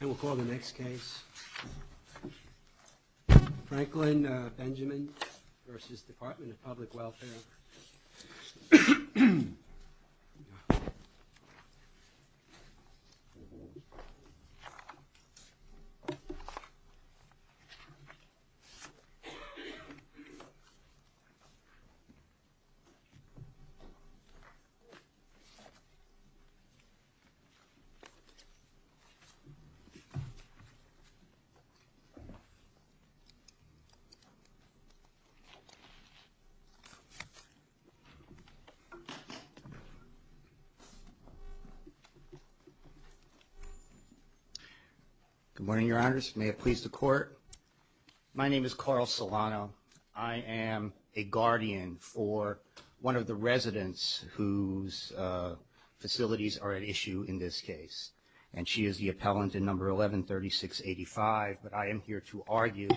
And we'll call the next case. Franklin Benjamin v. Department of Public Welfare. Good morning, Your Honors. May it please the Court. My name is Carl Solano. I am a 3685, but I am here to argue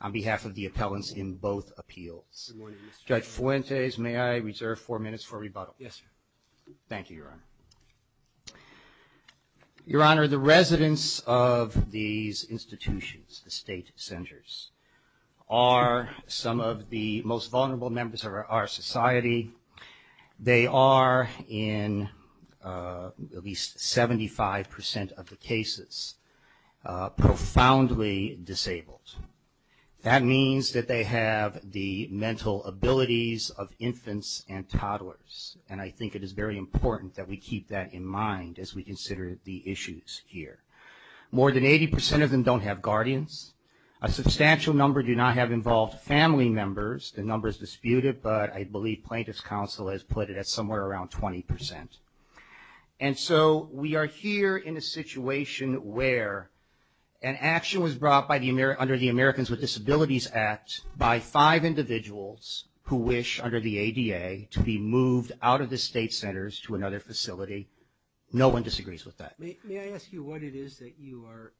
on behalf of the appellants in both appeals. Judge Fuentes, may I reserve four minutes for rebuttal? Yes, sir. Thank you, Your Honor. Your Honor, the residents of these institutions, the state centers, are some of the most vulnerable members of our society. They are, in at least 75% of the cases, profoundly disabled. That means that they have the mental abilities of infants and toddlers, and I think it is very important that we keep that in mind as we consider the issues here. More than 80% of them don't have that, but I believe plaintiff's counsel has put it at somewhere around 20%. And so we are here in a situation where an action was brought under the Americans with Disabilities Act by five individuals who wish, under the ADA, to be moved out of the state centers to another facility. No one disagrees with that. May I ask you what it is that you are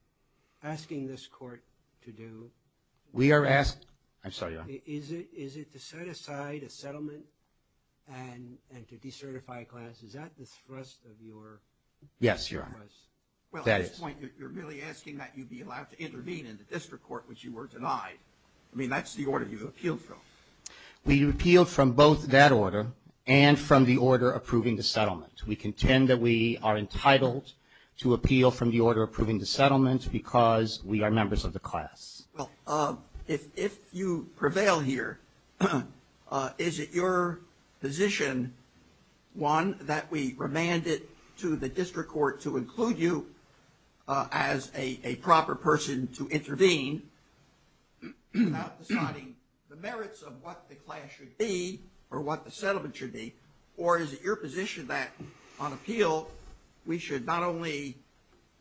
this court to do? We are asked, I'm sorry, Your Honor. Is it to set aside a settlement and to decertify a class? Is that the thrust of your request? Yes, Your Honor. Well, at this point, you're really asking that you be allowed to intervene in the district court, which you were denied. I mean, that's the order you appealed from. We appealed from both that order and from the order approving the settlement. We contend that we are entitled to appeal from the order approving the settlement because we are members of the class. Well, if you prevail here, is it your position, one, that we remand it to the district court to include you as a proper person to intervene without deciding the merits of what the class should be or what the settlement should be? Or is it your position that on appeal we should not only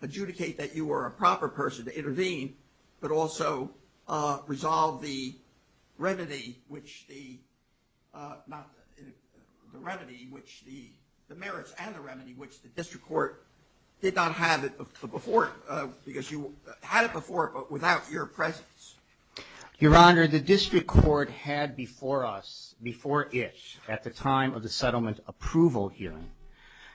adjudicate that you are a proper person to intervene but also resolve the remedy which the merits and the remedy which the district court did not have it before because you had it before but without your presence? Your Honor, the district court had before us, before it at the time of the settlement approval hearing,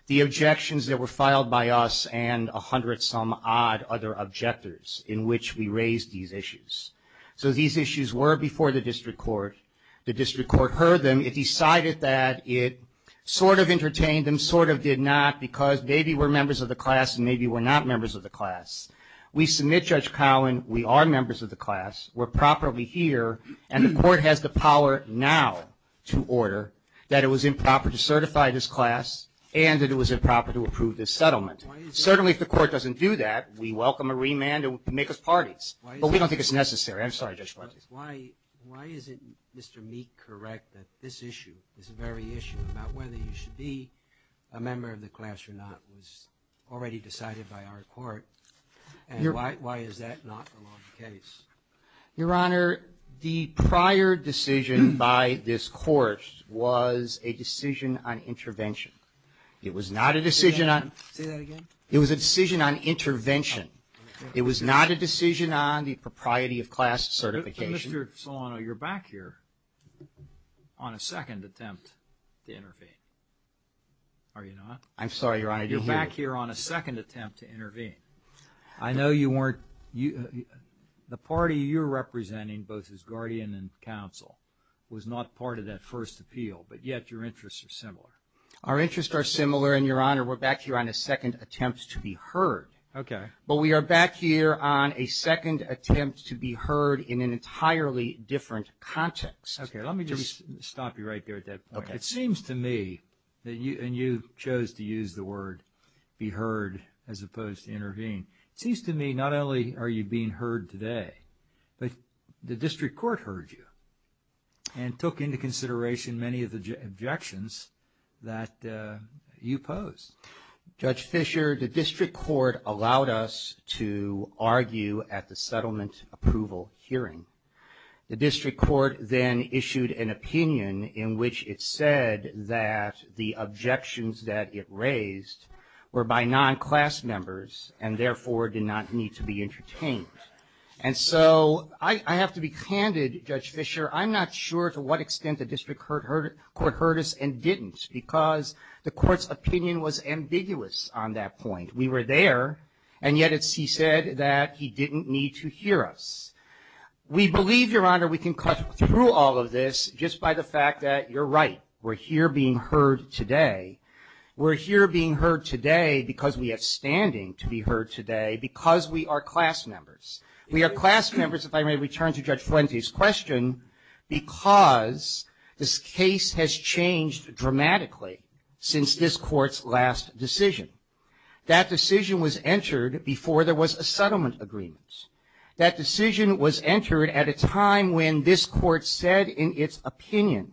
the objections that were made by us and a hundred some odd other objectors in which we raised these issues. So these issues were before the district court. The district court heard them. It decided that it sort of entertained them, sort of did not because maybe we're members of the class and maybe we're not members of the class. We submit, Judge Cowen, we are members of the class. We're properly here and the court has the power now to order that it was improper to Certainly, if the court doesn't do that, we welcome a remand to make us parties. But we don't think it's necessary. I'm sorry, Judge Fletcher. Why is it, Mr. Meek, correct that this issue, this very issue about whether you should be a member of the class or not was already decided by our court? And why is that not the law of the case? Your Honor, the prior decision by this court was a decision on intervention. It was not a decision on It was a decision on intervention. It was not a decision on the propriety of class certification. Mr. Solano, you're back here on a second attempt to intervene. Are you not? I'm sorry, Your Honor. You're back here on a second attempt to intervene. I know you weren't. The party you're representing, both as guardian and counsel, was not part of that first appeal. But yet, your interests are similar. Our interests are similar, and, Your Honor, we're back here on a second attempt to be heard. But we are back here on a second attempt to be heard in an entirely different context. Okay, let me just stop you right there at that point. It seems to me, and you chose to use the word be heard as opposed to intervene. It seems to me, not only are you being heard today, but the district court heard you and took into consideration many of the objections that you posed. Judge Fischer, the district court allowed us to argue at the settlement approval hearing. The district court then issued an opinion in which it said that the objections that it raised were by non-class members and, therefore, did not need to be entertained. And so, I have to be candid, Judge Fischer, I'm not sure to what extent the district court heard us and didn't, because the court's opinion was ambiguous on that point. We were there, and yet it's, he said that he didn't need to hear us. We believe, Your Honor, we can cut through all of this just by the fact that you're right. We're here being heard today. We're here being heard today because we have standing to be heard today, because we are class members. We are class members, if I may return to Judge Fuente's question, because this case has changed dramatically since this court's last decision. That decision was entered before there was a settlement agreement. That decision was entered at a time when this court said in its opinion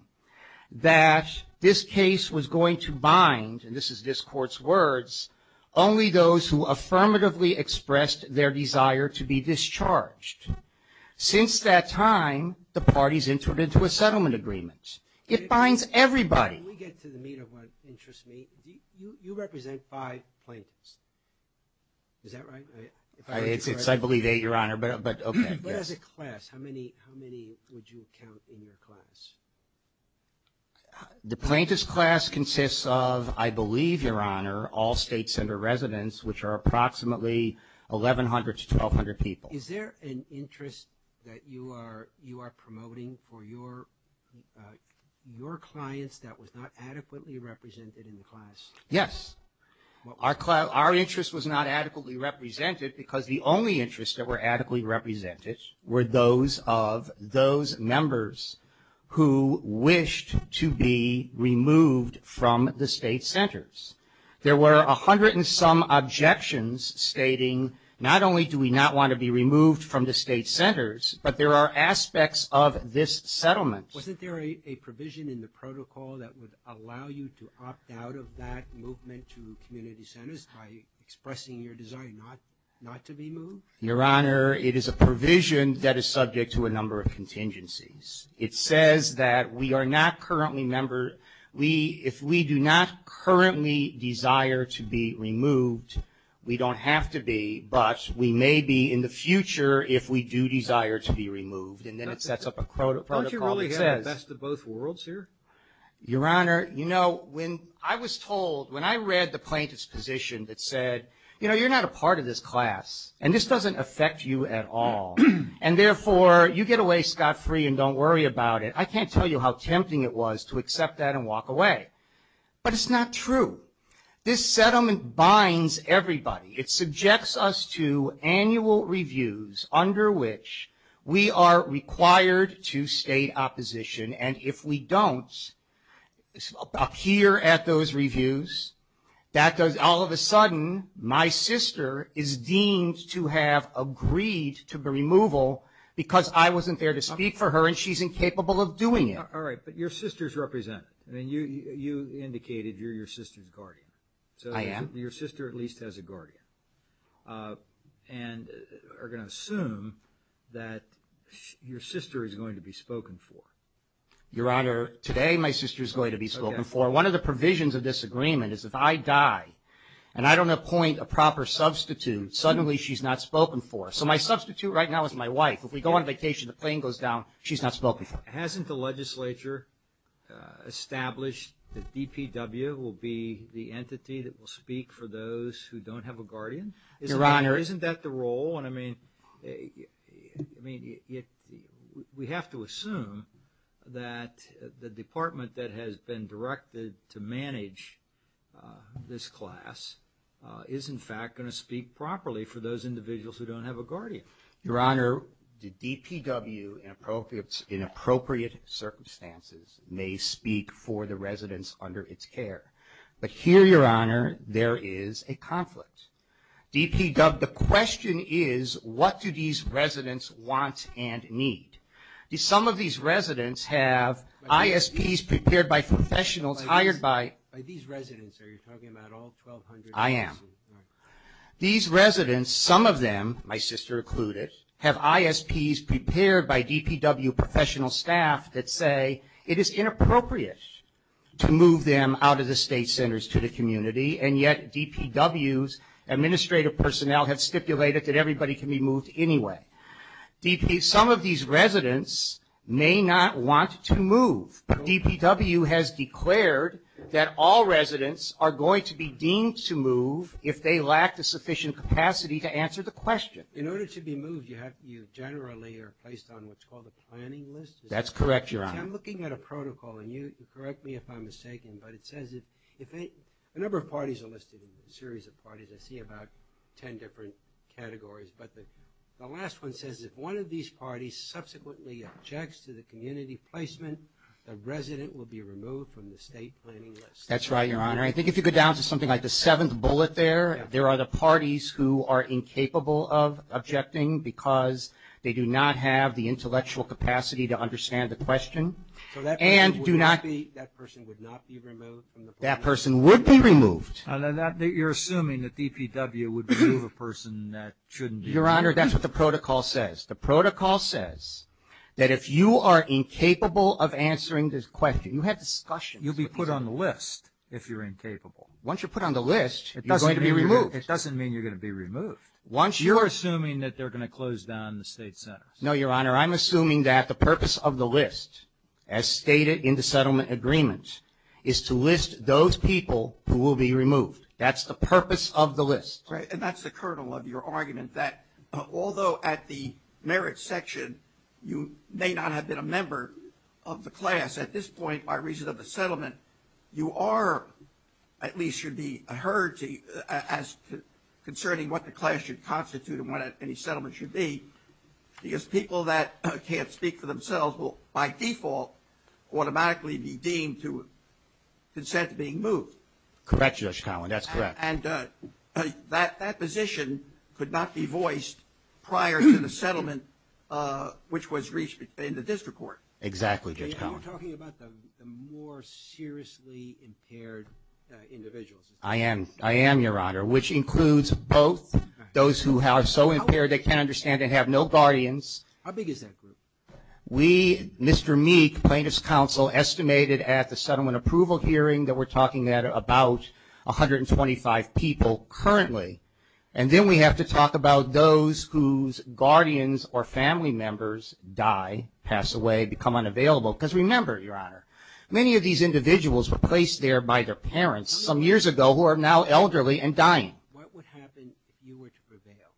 that this case was going to bind, and this is this court's words, only those who affirmatively expressed their desire to be discharged. Since that time, the parties entered into a settlement agreement. It binds everybody. And we get to the meat of what interests me. You represent five plaintiffs. Is that right? It's, I believe, eight, Your Honor, but, okay, yes. But as a class, how many would you count in your class? The plaintiff's class consists of, I believe, Your Honor, all state center residents, which are approximately 1,100 to 1,200 people. Is there an interest that you are promoting for your clients that was discharged? Not adequately represented in the class. Yes. Well, our interest was not adequately represented because the only interests that were adequately represented were those of those members who wished to be removed from the state centers. There were a hundred and some objections stating not only do we not want to be removed from the state centers, but there are aspects of this settlement. Wasn't there a provision in the protocol that would allow you to opt out of that movement to community centers by expressing your desire not to be moved? Your Honor, it is a provision that is subject to a number of contingencies. It says that we are not currently member, we, if we do not currently desire to be removed, we don't have to be, but we may be in the future if we do desire to be removed. And then it sets up a protocol that says... Don't you really have the best of both worlds here? Your Honor, you know, when I was told, when I read the plaintiff's position that said, you know, you're not a part of this class, and this doesn't affect you at all, and therefore, you get away scot-free and don't worry about it. I can't tell you how tempting it was to accept that and walk away. But it's not true. This settlement binds everybody. It subjects us to annual reviews under which we are required to state opposition, and if we don't appear at those reviews, that does, all of a sudden, my sister is deemed to have agreed to the removal because I wasn't there to speak for her, and she's incapable of doing it. All right, but your sister is represented, and you indicated you're your sister's guardian. I am. So your sister at least has a guardian, and are going to assume that your sister is going to be spoken for. Your Honor, today my sister is going to be spoken for. One of the provisions of this agreement is if I die and I don't appoint a proper substitute, suddenly she's not spoken for. So my substitute right now is my wife. If we go on vacation, the plane goes down, she's not spoken for. Hasn't the legislature established that DPW will be the entity that will speak for those who don't have a guardian? Your Honor. Isn't that the role? No, I mean, we have to assume that the department that has been directed to manage this class is, in fact, going to speak properly for those individuals who don't have a guardian. Your Honor, the DPW, in appropriate circumstances, may speak for the residents under its care. But here, Your Honor, there is a conflict. DPW, the question is, what do these residents want and need? Some of these residents have ISPs prepared by professionals hired by By these residents, are you talking about all 1,200? I am. These residents, some of them, my sister included, have ISPs prepared by DPW professional staff that say it is inappropriate to move them out of the state centers to the community. And yet DPW's administrative personnel have stipulated that everybody can be moved anyway. Some of these residents may not want to move. DPW has declared that all residents are going to be deemed to move if they lack the sufficient capacity to answer the question. In order to be moved, you generally are placed on what's called a planning list? That's correct, Your Honor. I'm looking at a protocol, and you correct me if I'm mistaken, but it says that a number of parties are listed in the series of parties. I see about 10 different categories. But the last one says if one of these parties subsequently objects to the community placement, the resident will be removed from the state planning list. That's right, Your Honor. I think if you go down to something like the seventh bullet there, there are the parties who are incapable of objecting because they do not have the intellectual capacity to move them. So that person would not be removed from the planning list? That person would be removed. You're assuming that DPW would move a person that shouldn't be moved. Your Honor, that's what the protocol says. The protocol says that if you are incapable of answering this question, you have discussions. You'll be put on the list if you're incapable. Once you're put on the list, you're going to be removed. It doesn't mean you're going to be removed. You're assuming that they're going to close down the state centers. No, Your Honor, I'm assuming that the purpose of the list, as stated in the settlement agreement, is to list those people who will be removed. That's the purpose of the list. Right, and that's the kernel of your argument, that although at the merits section you may not have been a member of the class, at this point, by reason of the settlement, you are, at least should be, heard as concerning what the class should constitute and what any settlement should be, because people that can't speak for themselves will, by default, automatically be deemed to consent to being moved. Correct, Judge Cowen, that's correct. And that position could not be voiced prior to the settlement, which was reached in the district court. Exactly, Judge Cowen. Are you talking about the more seriously impaired individuals? I am, I am, Your Honor, which includes both those who are so impaired they can't understand and have no guardians. How big is that group? We, Mr. Meek, plaintiff's counsel, estimated at the settlement approval hearing that we're talking about 125 people currently, and then we have to talk about those whose guardians or family members die, pass away, become unavailable, because remember, Your Honor, many of these individuals were placed there by their parents some years ago who are now elderly and dying. What would happen if you were to prevail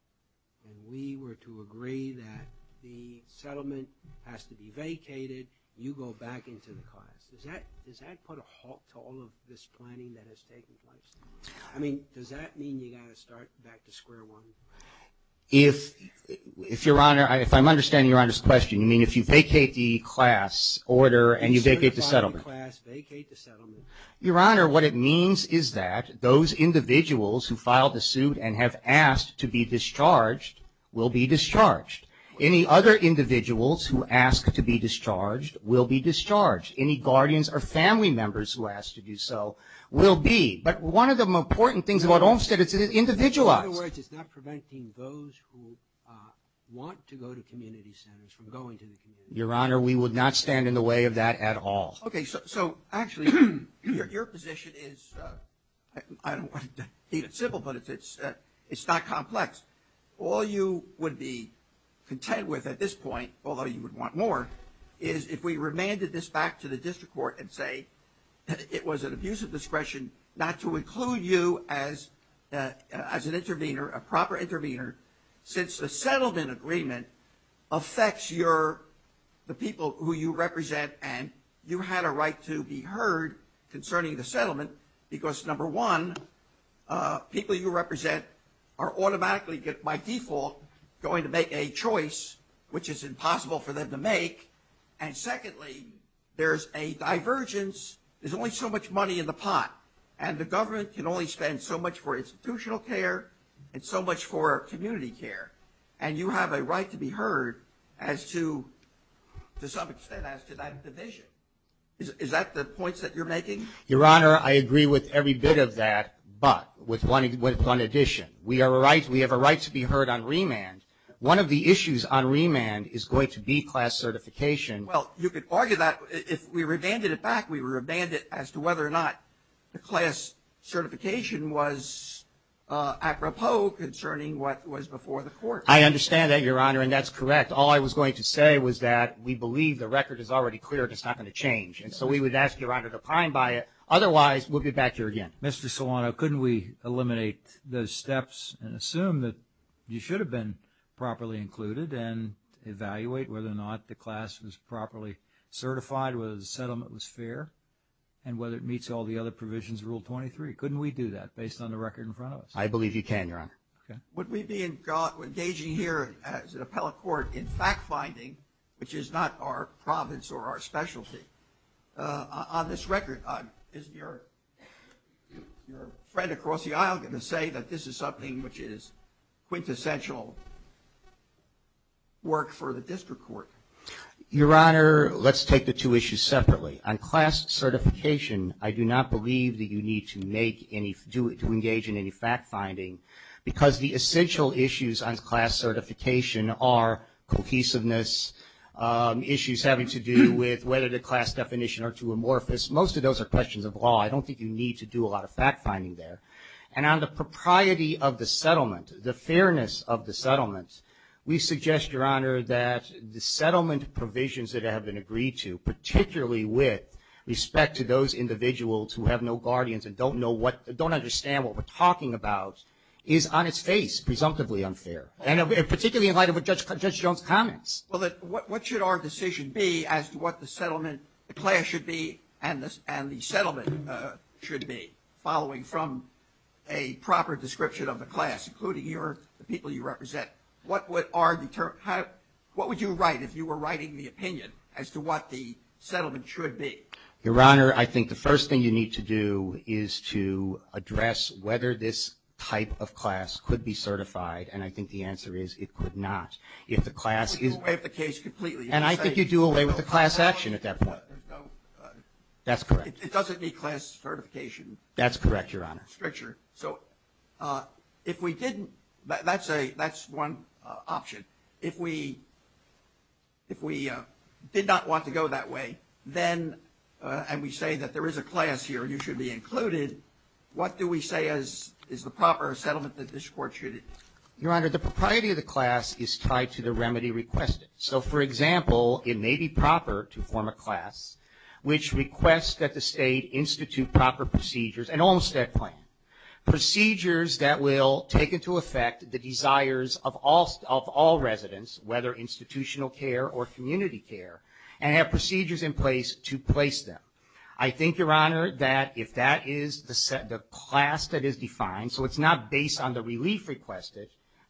and we were to agree that the settlement has to be vacated, you go back into the class? Does that put a halt to all of this planning that has taken place? I mean, does that mean you've got to start back to square one? If Your Honor, if I'm understanding Your Honor's question, you mean if you vacate the class order and you vacate the settlement? You vacate the class, vacate the settlement. Your Honor, what it means is that those individuals who filed the suit and have asked to be discharged will be discharged. Any other individuals who ask to be discharged will be discharged. Any guardians or family members who ask to do so will be. But one of the important things about Olmstead, it's individualized. In other words, it's not preventing those who want to go to community centers from going to the community centers. Your Honor, we would not stand in the way of that at all. Okay. So actually, your position is, I don't want to keep it simple, but it's not complex. All you would be content with at this point, although you would want more, is if we remanded this back to the district court and say that it was an abuse of discretion not to include you as an intervener, a proper intervener, since the settlement agreement affects the people who you represent and you had a right to be heard concerning the settlement, because number one, people you represent are automatically, by default, going to make a choice which is impossible for them to make. And secondly, there's a divergence. There's only so much money in the pot, and the government can only spend so much for institutional care and so much for community care, and you have a right to be heard as to, to some extent, as to that division. Is that the point that you're making? Your Honor, I agree with every bit of that, but with one addition. We have a right to be heard on remand. One of the issues on remand is going to be class certification. Well, you could argue that if we remanded it back, we remanded it as to whether or not the class certification was apropos concerning what was before the court. I understand that, Your Honor, and that's correct. All I was going to say was that we believe the record is already clear and it's not going to change. And so we would ask, Your Honor, to pine by it. Otherwise, we'll be back here again. Mr. Solano, couldn't we eliminate those steps and assume that you should have been properly included and evaluate whether or not the class was properly certified, whether the settlement was fair, and whether it meets all the other provisions of Rule 23? Couldn't we do that based on the record in front of us? I believe you can, Your Honor. Would we be engaging here as an appellate court in fact-finding, which is not our province or our specialty? On this record, isn't your friend across the aisle going to say that this is something which is quintessential work for the district court? Your Honor, let's take the two issues separately. On class certification, I do not believe that you need to engage in any fact-finding because the essential issues on class certification are cohesiveness, issues having to do with whether the class definition are too amorphous. Most of those are questions of law. I don't think you need to do a lot of fact-finding there. And on the propriety of the settlement, the fairness of the settlement, we suggest, Your Honor, that the settlement provisions that have been agreed to, particularly with respect to those individuals who have no guardians and don't understand what we're talking about, is on its face presumptively unfair, particularly in light of what Judge Jones comments. Well, what should our decision be as to what the settlement class should be and the settlement should be, following from a proper description of the class, including the people you represent? What would you write if you were writing the opinion as to what the settlement should be? Your Honor, I think the first thing you need to do is to address whether this type of class could be certified, and I think the answer is it could not. If the class is… You do away with the case completely. And I think you do away with the class action at that point. That's correct. It doesn't need class certification. That's correct, Your Honor. So if we didn't… that's one option. If we did not want to go that way and we say that there is a class here and you should be included, what do we say is the proper settlement that this Court should… Your Honor, the propriety of the class is tied to the remedy requested. So, for example, it may be proper to form a class which requests that the State institute proper procedures, an Olmstead plan, procedures that will take into effect the desires of all residents, whether institutional care or community care, and have procedures in place to place them. I think, Your Honor, that if that is the class that is defined, so it's not based on the relief requested,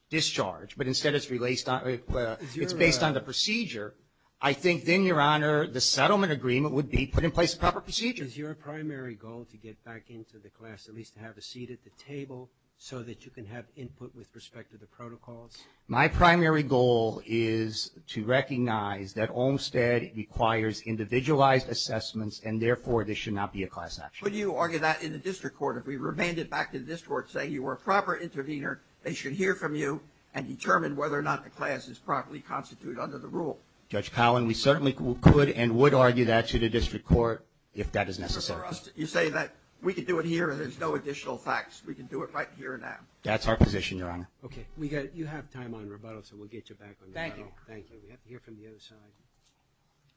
discharge, but instead it's based on the procedure, I think then, Your Honor, the settlement agreement would be put in place a proper procedure. Is your primary goal to get back into the class, at least to have a seat at the table, so that you can have input with respect to the protocols? My primary goal is to recognize that Olmstead requires individualized assessments and, therefore, there should not be a class action. Could you argue that in the District Court? If we remand it back to the District Court saying you were a proper intervener, they should hear from you and determine whether or not the class is properly constituted under the rule. Judge Collin, we certainly could and would argue that to the District Court if that is necessary. You say that we can do it here and there's no additional facts. We can do it right here and now. That's our position, Your Honor. Okay. You have time on rebuttal, so we'll get you back on rebuttal. Thank you. Thank you. We have to hear from the other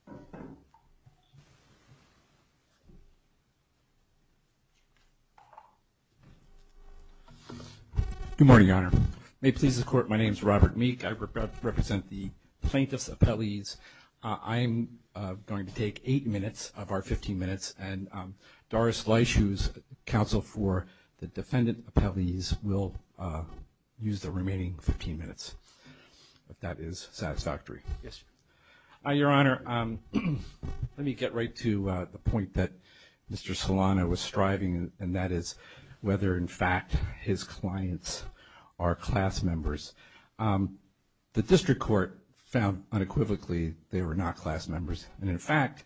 side. Good morning, Your Honor. May it please the Court, my name is Robert Meek. I represent the plaintiff's appellees. I am going to take eight minutes of our 15 minutes, and Doris Leisch, who is counsel for the defendant appellees, will use the remaining 15 minutes, if that is satisfactory. Yes, Your Honor. Your Honor, let me get right to the point that Mr. Solano was striving, and that is whether, in fact, his clients are class members. The District Court found unequivocally they were not class members. And, in fact,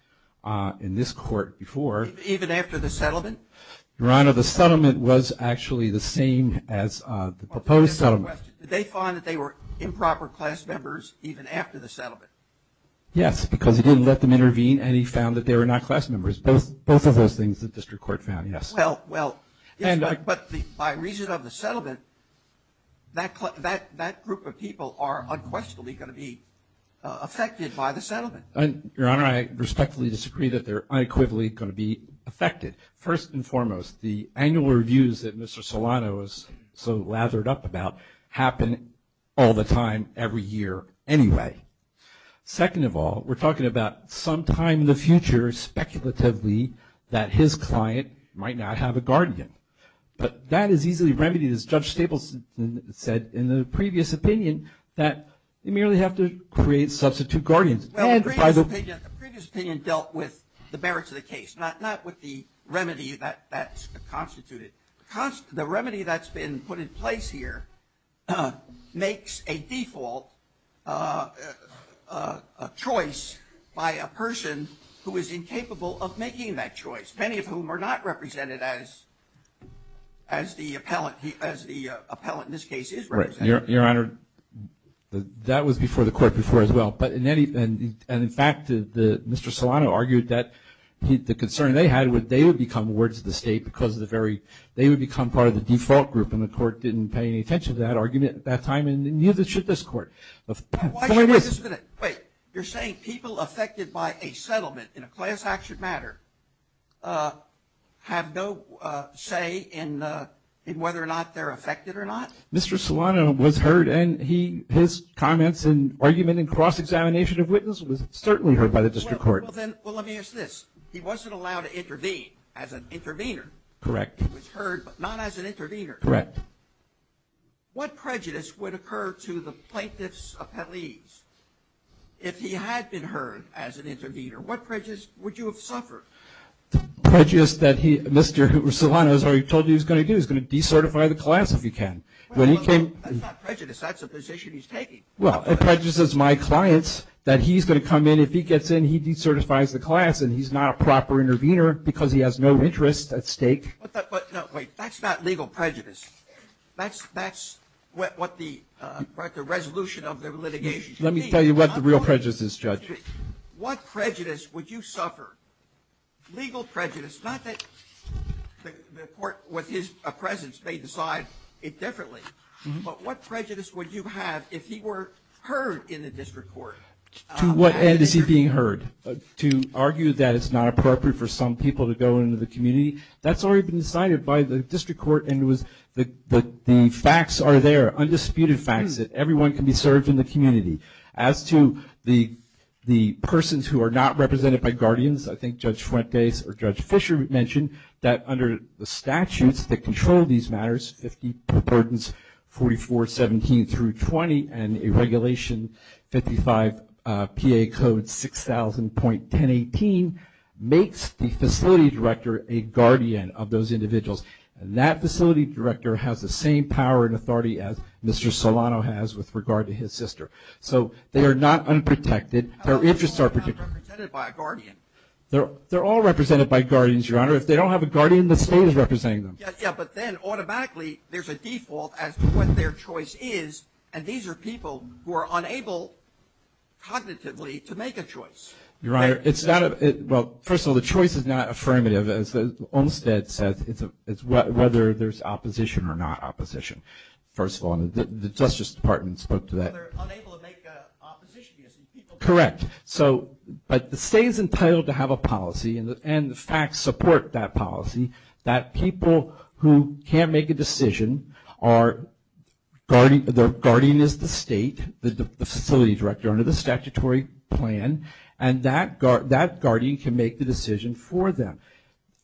in this court before. Even after the settlement? Your Honor, the settlement was actually the same as the proposed settlement. Did they find that they were improper class members even after the settlement? Yes, because he didn't let them intervene, and he found that they were not class members. Both of those things the District Court found, yes. Well, yes, but by reason of the settlement, that group of people are unquestionably going to be affected by the settlement. Your Honor, I respectfully disagree that they're unequivocally going to be affected. First and foremost, the annual reviews that Mr. Solano is so lathered up about happen all the time every year anyway. Second of all, we're talking about sometime in the future, speculatively, that his client might not have a guardian. But that is easily remedied, as Judge Staples said in the previous opinion, that they merely have to create substitute guardians. Well, the previous opinion dealt with the merits of the case, not with the remedy that's constituted. The remedy that's been put in place here makes a default choice by a person who is incapable of making that choice, many of whom are not represented as the appellant in this case is represented. Your Honor, that was before the Court before as well. And, in fact, Mr. Solano argued that the concern they had was they would become wards of the state because they would become part of the default group, and the Court didn't pay any attention to that argument at that time, and neither should this Court. Wait a minute. You're saying people affected by a settlement in a class action matter have no say in whether or not they're affected or not? Mr. Solano was heard, and his comments and argument in cross-examination of witness was certainly heard by the district court. Well, let me ask this. He wasn't allowed to intervene as an intervener. Correct. He was heard, but not as an intervener. Correct. What prejudice would occur to the plaintiff's appellees if he had been heard as an intervener? What prejudice would you have suffered? The prejudice that Mr. Solano has already told you he's going to do, he's going to decertify the class if he can. That's not prejudice. That's a position he's taking. Well, it prejudices my clients that he's going to come in. If he gets in, he decertifies the class, and he's not a proper intervener because he has no interest at stake. Wait. That's not legal prejudice. That's what the resolution of the litigation should be. Let me tell you what the real prejudice is, Judge. What prejudice would you suffer? Legal prejudice. Not that the court with his presence may decide it differently, but what prejudice would you have if he were heard in the district court? To what end is he being heard? To argue that it's not appropriate for some people to go into the community? That's already been decided by the district court, and the facts are there, undisputed facts, that everyone can be served in the community. As to the persons who are not represented by guardians, I think Judge Fuentes or Judge Fisher mentioned that under the statutes that control these matters, 50 per burdens, 4417 through 20, and a regulation 55PA code 6000.1018 makes the facility director a guardian of those individuals. And that facility director has the same power and authority as Mr. Solano has with regard to his sister. So they are not unprotected. Their interests are protected. How are they all not represented by a guardian? They're all represented by guardians, Your Honor. If they don't have a guardian, the state is representing them. Yeah, but then automatically there's a default as to what their choice is, and these are people who are unable cognitively to make a choice. Your Honor, it's not a – well, first of all, the choice is not affirmative. As Olmstead says, it's whether there's opposition or not opposition. First of all, the Justice Department spoke to that. So they're unable to make an opposition. Correct. But the state is entitled to have a policy, and the facts support that policy, that people who can't make a decision are – the guardian is the state, the facility director under the statutory plan, and that guardian can make the decision for them.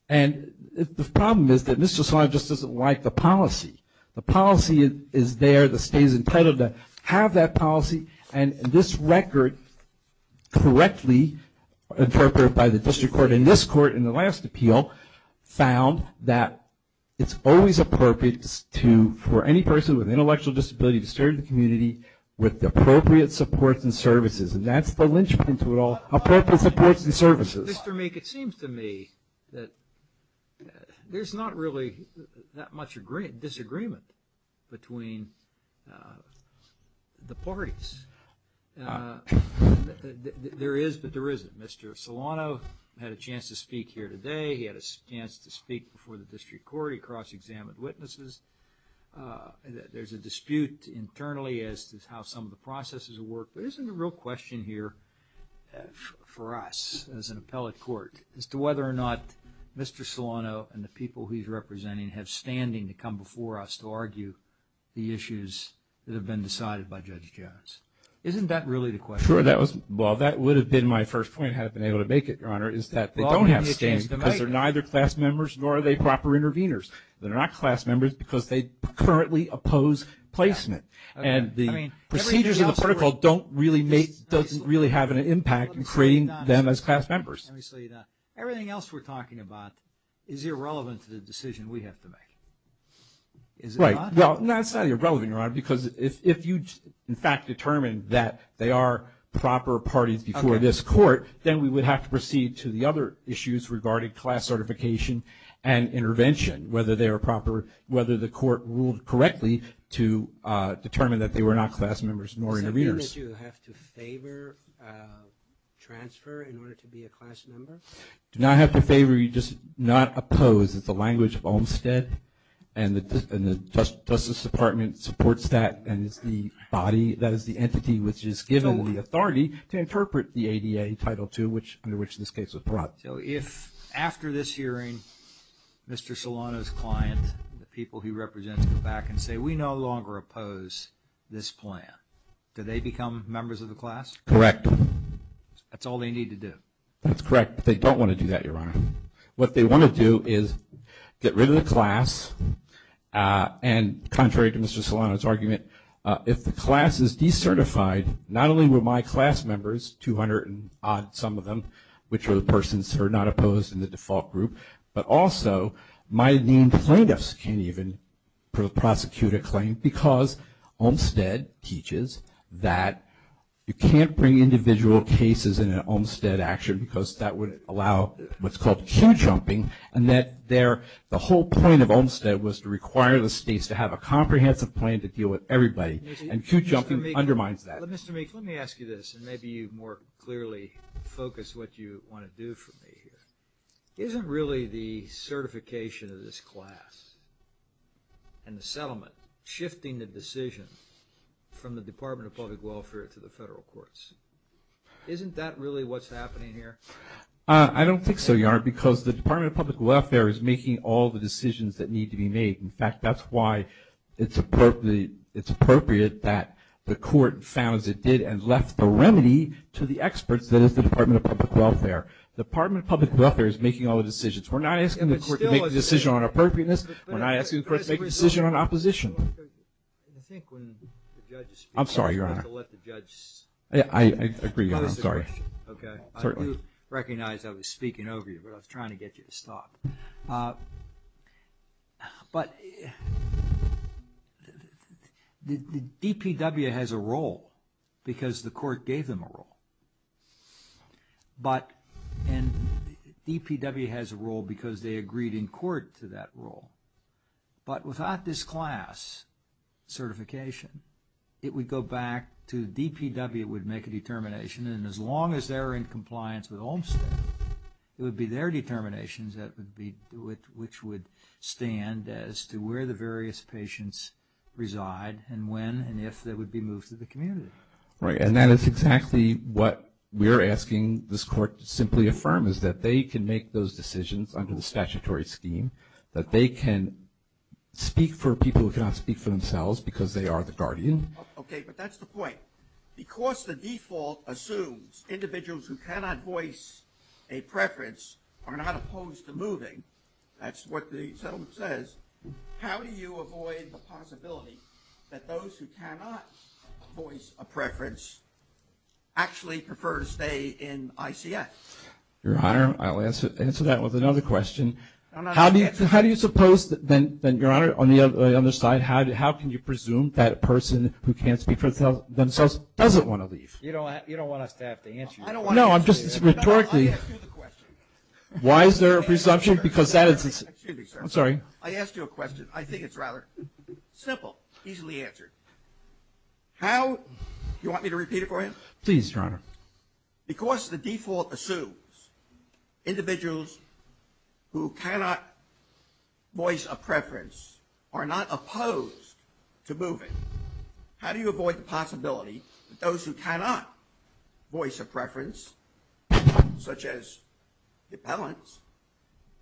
And the problem is that Mr. Solano just doesn't like the policy. The policy is there. The state is entitled to have that policy, and this record correctly interpreted by the district court in this court in the last appeal found that it's always appropriate for any person with intellectual disability to serve the community with appropriate supports and services, and that's the lynchpin to it all, appropriate supports and services. Mr. Meek, it seems to me that there's not really that much disagreement between the parties. There is, but there isn't. Mr. Solano had a chance to speak here today. He had a chance to speak before the district court. He cross-examined witnesses. There's a dispute internally as to how some of the processes work, but isn't the real question here for us as an appellate court as to whether or not Mr. Solano and the people he's representing have standing to come before us to argue the issues that have been decided by Judge Jones? Isn't that really the question? Sure, that was – well, that would have been my first point had I been able to make it, Your Honor, is that they don't have standing because they're neither class members nor are they proper interveners. They're not class members because they currently oppose placement, and the procedures of the protocol don't really have an impact in creating them as class members. Everything else we're talking about is irrelevant to the decision we have to make, is it not? Well, it's not irrelevant, Your Honor, because if you, in fact, determined that they are proper parties before this court, then we would have to proceed to the other issues regarding class certification and intervention, whether the court ruled correctly to determine that they were not class members nor interveners. Does that mean that you have to favor transfer in order to be a class member? Do not have to favor, you just not oppose. It's the language of Olmstead, and the Justice Department supports that, and it's the body that is the entity which is given the authority to interpret the ADA Title II, under which this case was brought. So if, after this hearing, Mr. Solano's client, the people he represents, come back and say, we no longer oppose this plan, do they become members of the class? Correct. That's all they need to do? That's correct. They don't want to do that, Your Honor. What they want to do is get rid of the class, and contrary to Mr. Solano's argument, if the class is decertified, not only will my class members, 200 and odd some of them, which are the persons who are not opposed in the default group, but also my main plaintiffs can't even prosecute a claim, because Olmstead teaches that you can't bring individual cases in an Olmstead action, because that would allow what's called queue-jumping, and that the whole point of Olmstead was to require the states to have a comprehensive plan to deal with everybody, and queue-jumping undermines that. Mr. Meek, let me ask you this, and maybe you more clearly focus what you want to do for me here. Isn't really the certification of this class and the settlement, shifting the decision from the Department of Public Welfare to the federal courts, isn't that really what's happening here? I don't think so, Your Honor, because the Department of Public Welfare is making all the decisions that need to be made. In fact, that's why it's appropriate that the court found as it did and left the remedy to the experts that is the Department of Public Welfare. The Department of Public Welfare is making all the decisions. We're not asking the court to make a decision on appropriateness. We're not asking the court to make a decision on opposition. I'm sorry, Your Honor. I agree, Your Honor. I'm sorry. Okay. I do recognize I was speaking over you, but I was trying to get you to stop. But DPW has a role because the court gave them a role. And DPW has a role because they agreed in court to that role. But without this class certification, it would go back to DPW would make a determination and as long as they're in compliance with Olmstead, it would be their determinations which would stand as to where the various patients reside and when and if they would be moved to the community. Right, and that is exactly what we're asking this court to simply affirm, is that they can make those decisions under the statutory scheme, that they can speak for people who cannot speak for themselves because they are the guardian. Okay, but that's the point. Because the default assumes individuals who cannot voice a preference are not opposed to moving, that's what the settlement says, how do you avoid the possibility that those who cannot voice a preference actually prefer to stay in ICF? Your Honor, I'll answer that with another question. How do you suppose then, Your Honor, on the other side, how can you presume that a person who can't speak for themselves doesn't want to leave? You don't want us to have to answer that. No, I'm just, rhetorically, why is there a presumption because that is, I'm sorry. I asked you a question. I think it's rather simple, easily answered. How, you want me to repeat it for you? Please, Your Honor. Because the default assumes individuals who cannot voice a preference are not opposed to moving, how do you avoid the possibility that those who cannot voice a preference, such as the appellants,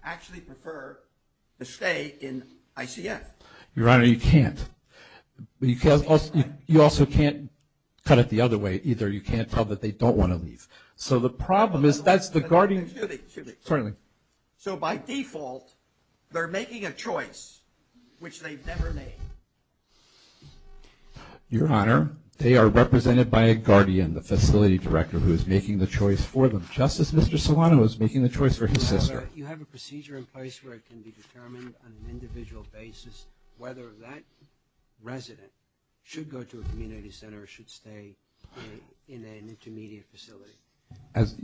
actually prefer to stay in ICF? Your Honor, you can't. You also can't cut it the other way. You can't tell that they don't want to leave. So the problem is that's the guardian. Excuse me, excuse me. Certainly. So by default, they're making a choice which they've never made. Your Honor, they are represented by a guardian, the facility director who is making the choice for them, just as Mr. Solano is making the choice for his sister. You have a procedure in place where it can be determined on an individual basis whether that resident should go to a community center or should stay in an intermediate facility. As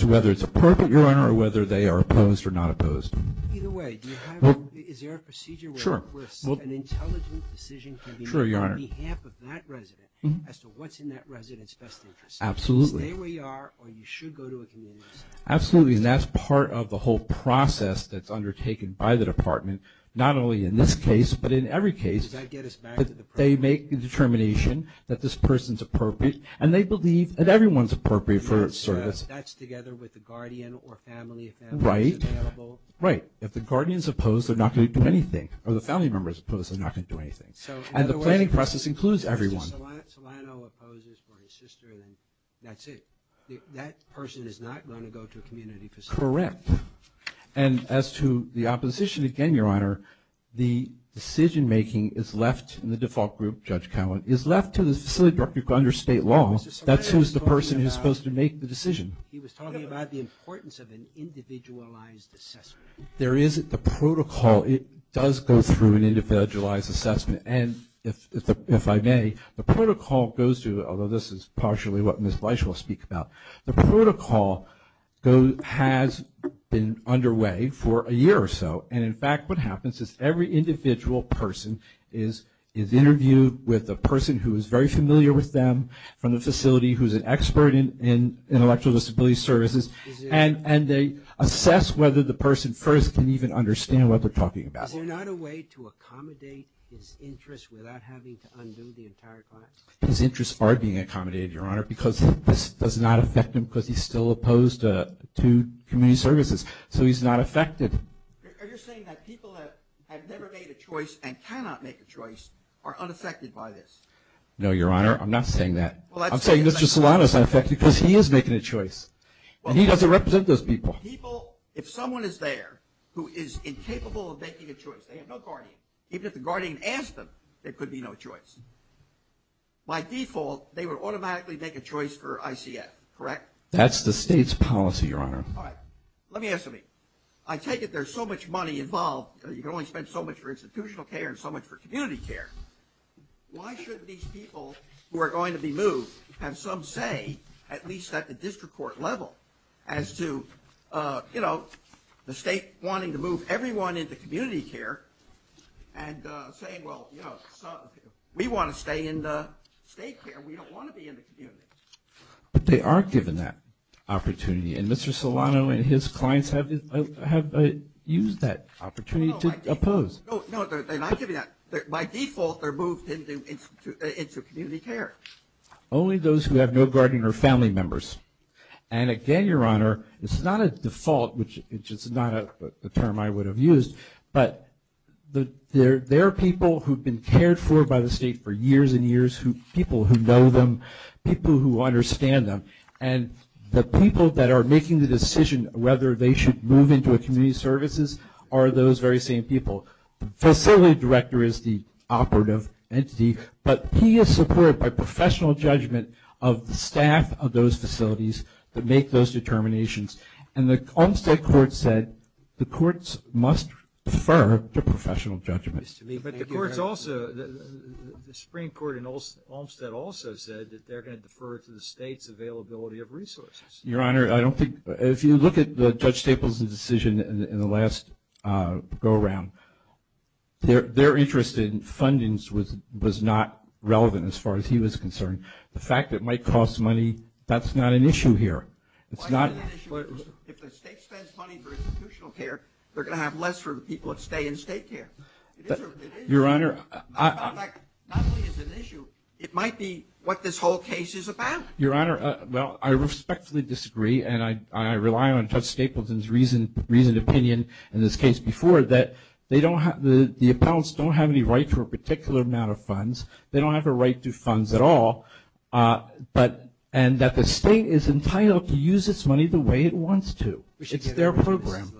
to whether it's appropriate, Your Honor, or whether they are opposed or not opposed. Either way, is there a procedure where an intelligent decision can be made on behalf of that resident as to what's in that resident's best interest? Absolutely. Stay where you are or you should go to a community center. Absolutely. And that's part of the whole process that's undertaken by the department, not only in this case, but in every case that they make the determination that this person's appropriate and they believe that everyone's appropriate for service. That's together with the guardian or family if that's available. Right. If the guardian's opposed, they're not going to do anything. Or the family member's opposed, they're not going to do anything. And the planning process includes everyone. So in other words, if Mr. Solano opposes for his sister, then that's it. That person is not going to go to a community facility. Correct. And as to the opposition, again, Your Honor, the decision-making is left in the default group, Judge Cowan, is left to the facility director under state law. That's who's the person who's supposed to make the decision. He was talking about the importance of an individualized assessment. There is the protocol. It does go through an individualized assessment. And if I may, the protocol goes to, although this is partially what Ms. Bleich will speak about, the protocol has been underway for a year or so. And, in fact, what happens is every individual person is interviewed with a person who is very familiar with them from the facility, who's an expert in intellectual disability services, and they assess whether the person first can even understand what they're talking about. Is there not a way to accommodate his interests without having to undo the entire class? His interests are being accommodated, Your Honor, because this does not affect him because he's still opposed to community services. So he's not affected. Are you saying that people that have never made a choice and cannot make a choice are unaffected by this? No, Your Honor, I'm not saying that. I'm saying Mr. Solano is unaffected because he is making a choice, and he doesn't represent those people. People, if someone is there who is incapable of making a choice, they have no guardian, even if the guardian asked them, there could be no choice. By default, they would automatically make a choice for ICF, correct? That's the state's policy, Your Honor. All right. Let me ask you something. I take it there's so much money involved, you can only spend so much for institutional care and so much for community care. Why shouldn't these people who are going to be moved have some say, at least at the district court level, as to, you know, the state wanting to move everyone into community care and saying, well, you know, we want to stay in the state care. We don't want to be in the community. But they are given that opportunity, and Mr. Solano and his clients have used that opportunity to oppose. No, they're not given that. By default, they're moved into community care. Only those who have no guardian are family members. And again, Your Honor, it's not a default, which is not a term I would have used, but there are people who have been cared for by the state for years and years, people who know them, people who understand them. And the people that are making the decision whether they should move into a community services are those very same people. The facility director is the operative entity, but he is supported by professional judgment of the staff of those facilities that make those determinations. And the Olmstead Court said the courts must defer to professional judgment. But the courts also, the Supreme Court in Olmstead also said that they're going to defer to the state's availability of resources. Your Honor, I don't think, if you look at Judge Staples' decision in the last go-around, their interest in fundings was not relevant as far as he was concerned. The fact it might cost money, that's not an issue here. It's not. If the state spends money for institutional care, they're going to have less for the people that stay in state care. Your Honor. Not only is it an issue, it might be what this whole case is about. Your Honor, well, I respectfully disagree, and I rely on Judge Staples' reasoned opinion in this case before that the appellants don't have any right for a particular amount of funds. They don't have a right to funds at all. And that the state is entitled to use its money the way it wants to. It's their program.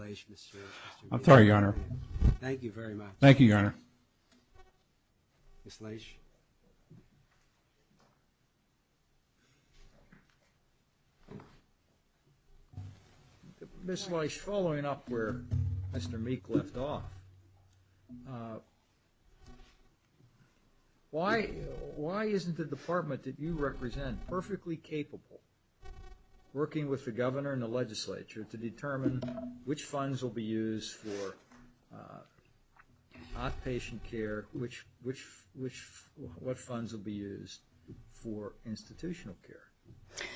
I'm sorry, Your Honor. Thank you very much. Thank you, Your Honor. Ms. Leisch. Ms. Leisch, following up where Mr. Meek left off, why isn't the department that you represent perfectly capable, working with the governor and the legislature, to determine which funds will be used for outpatient care, what funds will be used for institutional care?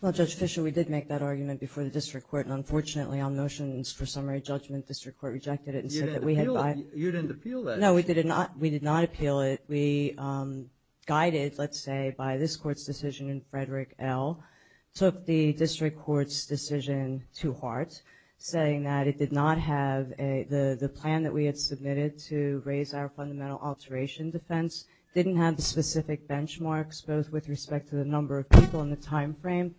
Well, Judge Fischer, we did make that argument before the district court, and unfortunately on motions for summary judgment, district court rejected it and said that we had by- You didn't appeal that. No, we did not appeal it. We guided, let's say, by this court's decision in Frederick L., took the district court's decision to heart, saying that it did not have the plan that we had submitted to raise our fundamental alteration defense, didn't have the specific benchmarks, both with respect to the number of people in the time frame,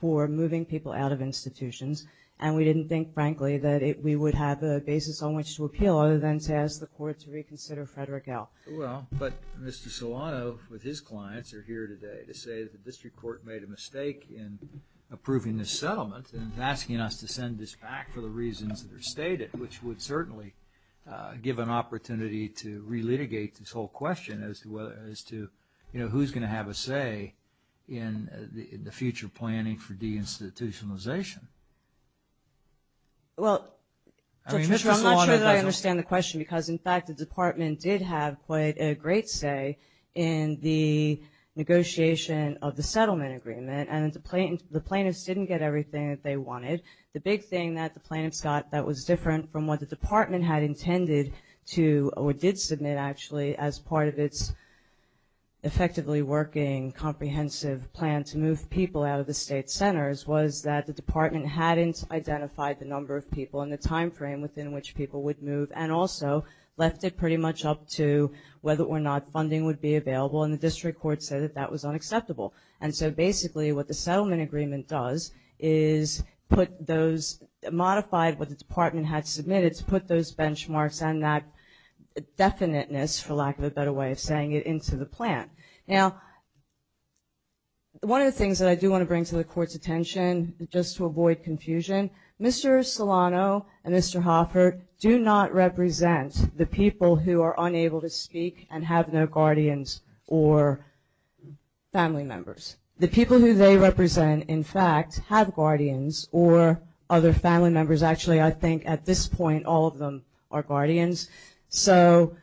for moving people out of institutions. And we didn't think, frankly, that we would have a basis on which to appeal, other than to ask the court to reconsider Frederick L. Well, but Mr. Solano with his clients are here today to say that the district court made a mistake in approving this settlement and is asking us to send this back for the reasons that are stated, which would certainly give an opportunity to relitigate this whole question as to who's going to have a say in the future planning for deinstitutionalization. Well, Judge Fischer, I'm not sure that I understand the question because, in fact, the department did have quite a great say in the negotiation of the settlement agreement, and the plaintiffs didn't get everything that they wanted. The big thing that the plaintiffs got that was different from what the department had intended to, or did submit, actually, as part of its effectively working, comprehensive plan to move people out of the state centers was that the department hadn't identified the number of people and the time frame within which people would move and also left it pretty much up to whether or not funding would be available, and the district court said that that was unacceptable. And so basically what the settlement agreement does is put those, modified what the department had submitted to put those benchmarks and that definiteness, for lack of a better way of saying it, into the plan. Now, one of the things that I do want to bring to the court's attention, just to avoid confusion, Mr. Solano and Mr. Hoffert do not represent the people who are unable to speak and have no guardians or family members. The people who they represent, in fact, have guardians or other family members. Actually, I think at this point all of them are guardians. So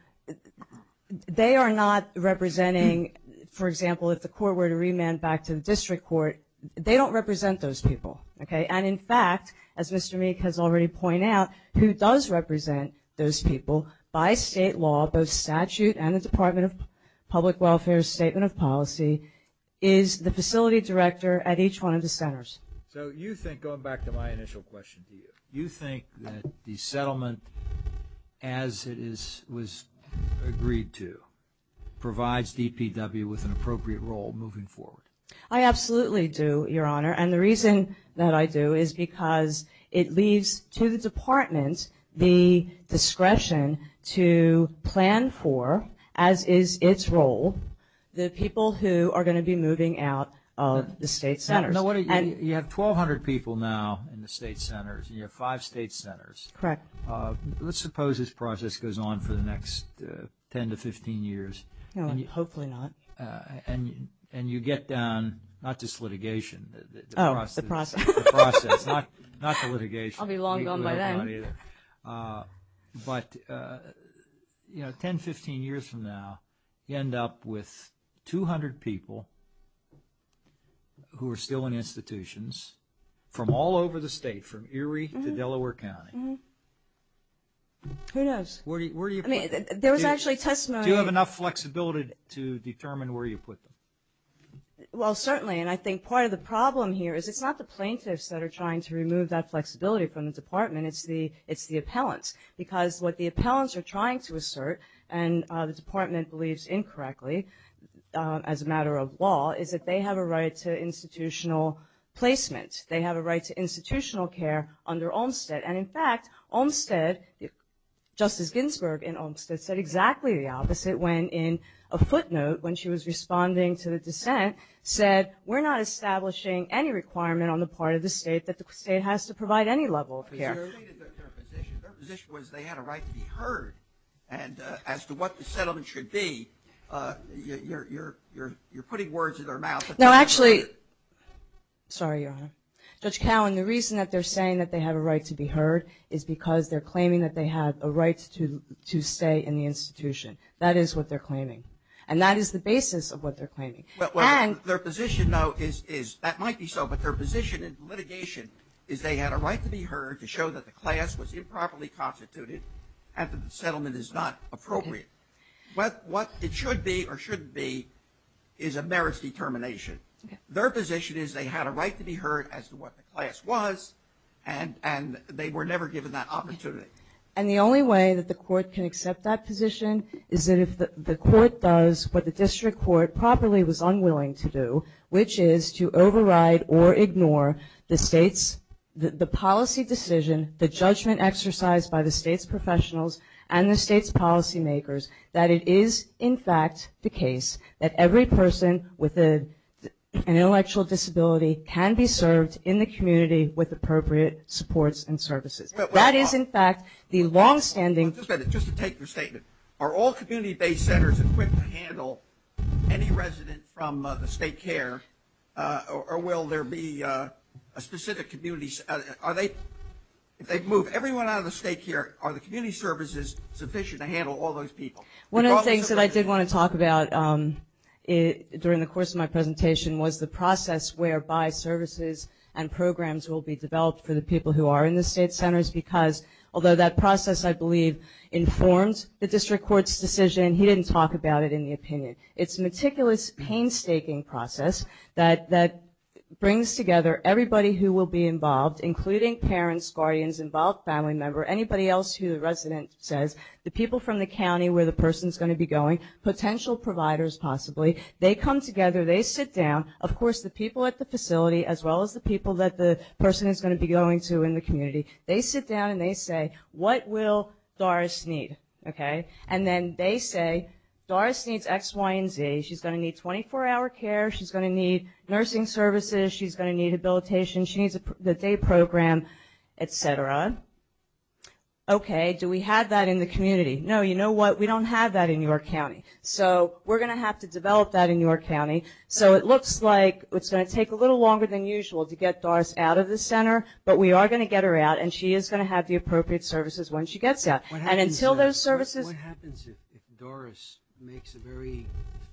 they are not representing, for example, if the court were to remand back to the district court, they don't represent those people. And in fact, as Mr. Meek has already pointed out, who does represent those people by state law, both statute and the Department of Public Welfare's statement of policy, is the facility director at each one of the centers. So you think, going back to my initial question to you, you think that the settlement as it was agreed to provides DPW with an appropriate role moving forward? I absolutely do, Your Honor. And the reason that I do is because it leaves to the department the discretion to plan for, as is its role, the people who are going to be moving out of the state centers. You have 1,200 people now in the state centers, and you have five state centers. Correct. Let's suppose this process goes on for the next 10 to 15 years. Hopefully not. And you get down not just litigation. Oh, the process. The process, not the litigation. I'll be long gone by then. But, you know, 10, 15 years from now, you end up with 200 people who are still in institutions from all over the state, from Erie to Delaware County. Who knows? I mean, there was actually testimony. Do you have enough flexibility to determine where you put them? Well, certainly. And I think part of the problem here is it's not the plaintiffs that are trying to remove that flexibility from the department, it's the appellants. Because what the appellants are trying to assert, and the department believes incorrectly as a matter of law, is that they have a right to institutional placement. They have a right to institutional care under Olmstead. And, in fact, Olmstead, Justice Ginsburg in Olmstead, said exactly the opposite when in a footnote, when she was responding to the dissent, said, we're not establishing any requirement on the part of the state that the state has to provide any level of care. Their position was they had a right to be heard. And as to what the settlement should be, you're putting words in their mouth. No, actually, sorry, Your Honor. Judge Cowen, the reason that they're saying that they have a right to be heard is because they're claiming that they have a right to stay in the institution. That is what they're claiming. And that is the basis of what they're claiming. Well, their position, though, is that might be so, but their position in litigation is they had a right to be heard to show that the class was improperly constituted and that the settlement is not appropriate. What it should be or shouldn't be is a merits determination. Their position is they had a right to be heard as to what the class was, and they were never given that opportunity. And the only way that the court can accept that position is that if the court does what the district court properly was unwilling to do, which is to override or ignore the state's, the policy decision, the judgment exercised by the state's professionals and the state's policymakers, that it is, in fact, the case that every person with an intellectual disability can be served in the community with appropriate supports and services. That is, in fact, the longstanding – Just a minute. Just to take your statement. Are all community-based centers equipped to handle any resident from the state care, or will there be a specific community – are they – if they move everyone out of the state care, are the community services sufficient to handle all those people? One of the things that I did want to talk about during the course of my presentation was the process whereby services and programs will be developed for the people who are in the state centers because although that process, I believe, informed the district court's decision, he didn't talk about it in the opinion. It's a meticulous, painstaking process that brings together everybody who will be involved, including parents, guardians, involved family member, anybody else who the resident says, the people from the county where the person's going to be going, potential providers possibly. They come together. They sit down. Of course, the people at the facility, as well as the people that the person is going to be going to in the community, they sit down and they say, what will Doris need? And then they say, Doris needs X, Y, and Z. She's going to need 24-hour care. She's going to need nursing services. She's going to need habilitation. She needs the day program, et cetera. Okay. Do we have that in the community? No. You know what? We don't have that in your county. So we're going to have to develop that in your county. So it looks like it's going to take a little longer than usual to get Doris out of the center, but we are going to get her out, and she is going to have the appropriate services when she gets out. What happens if Doris makes a very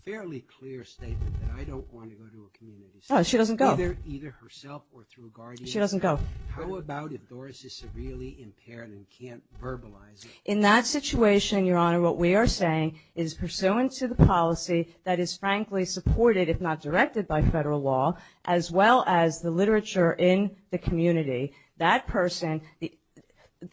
fairly clear statement that I don't want to go to a community center? She doesn't go. Either herself or through guardians? She doesn't go. How about if Doris is severely impaired and can't verbalize it? In that situation, Your Honor, what we are saying is pursuant to the policy that is frankly supported, if not directed by federal law, as well as the literature in the community, that person,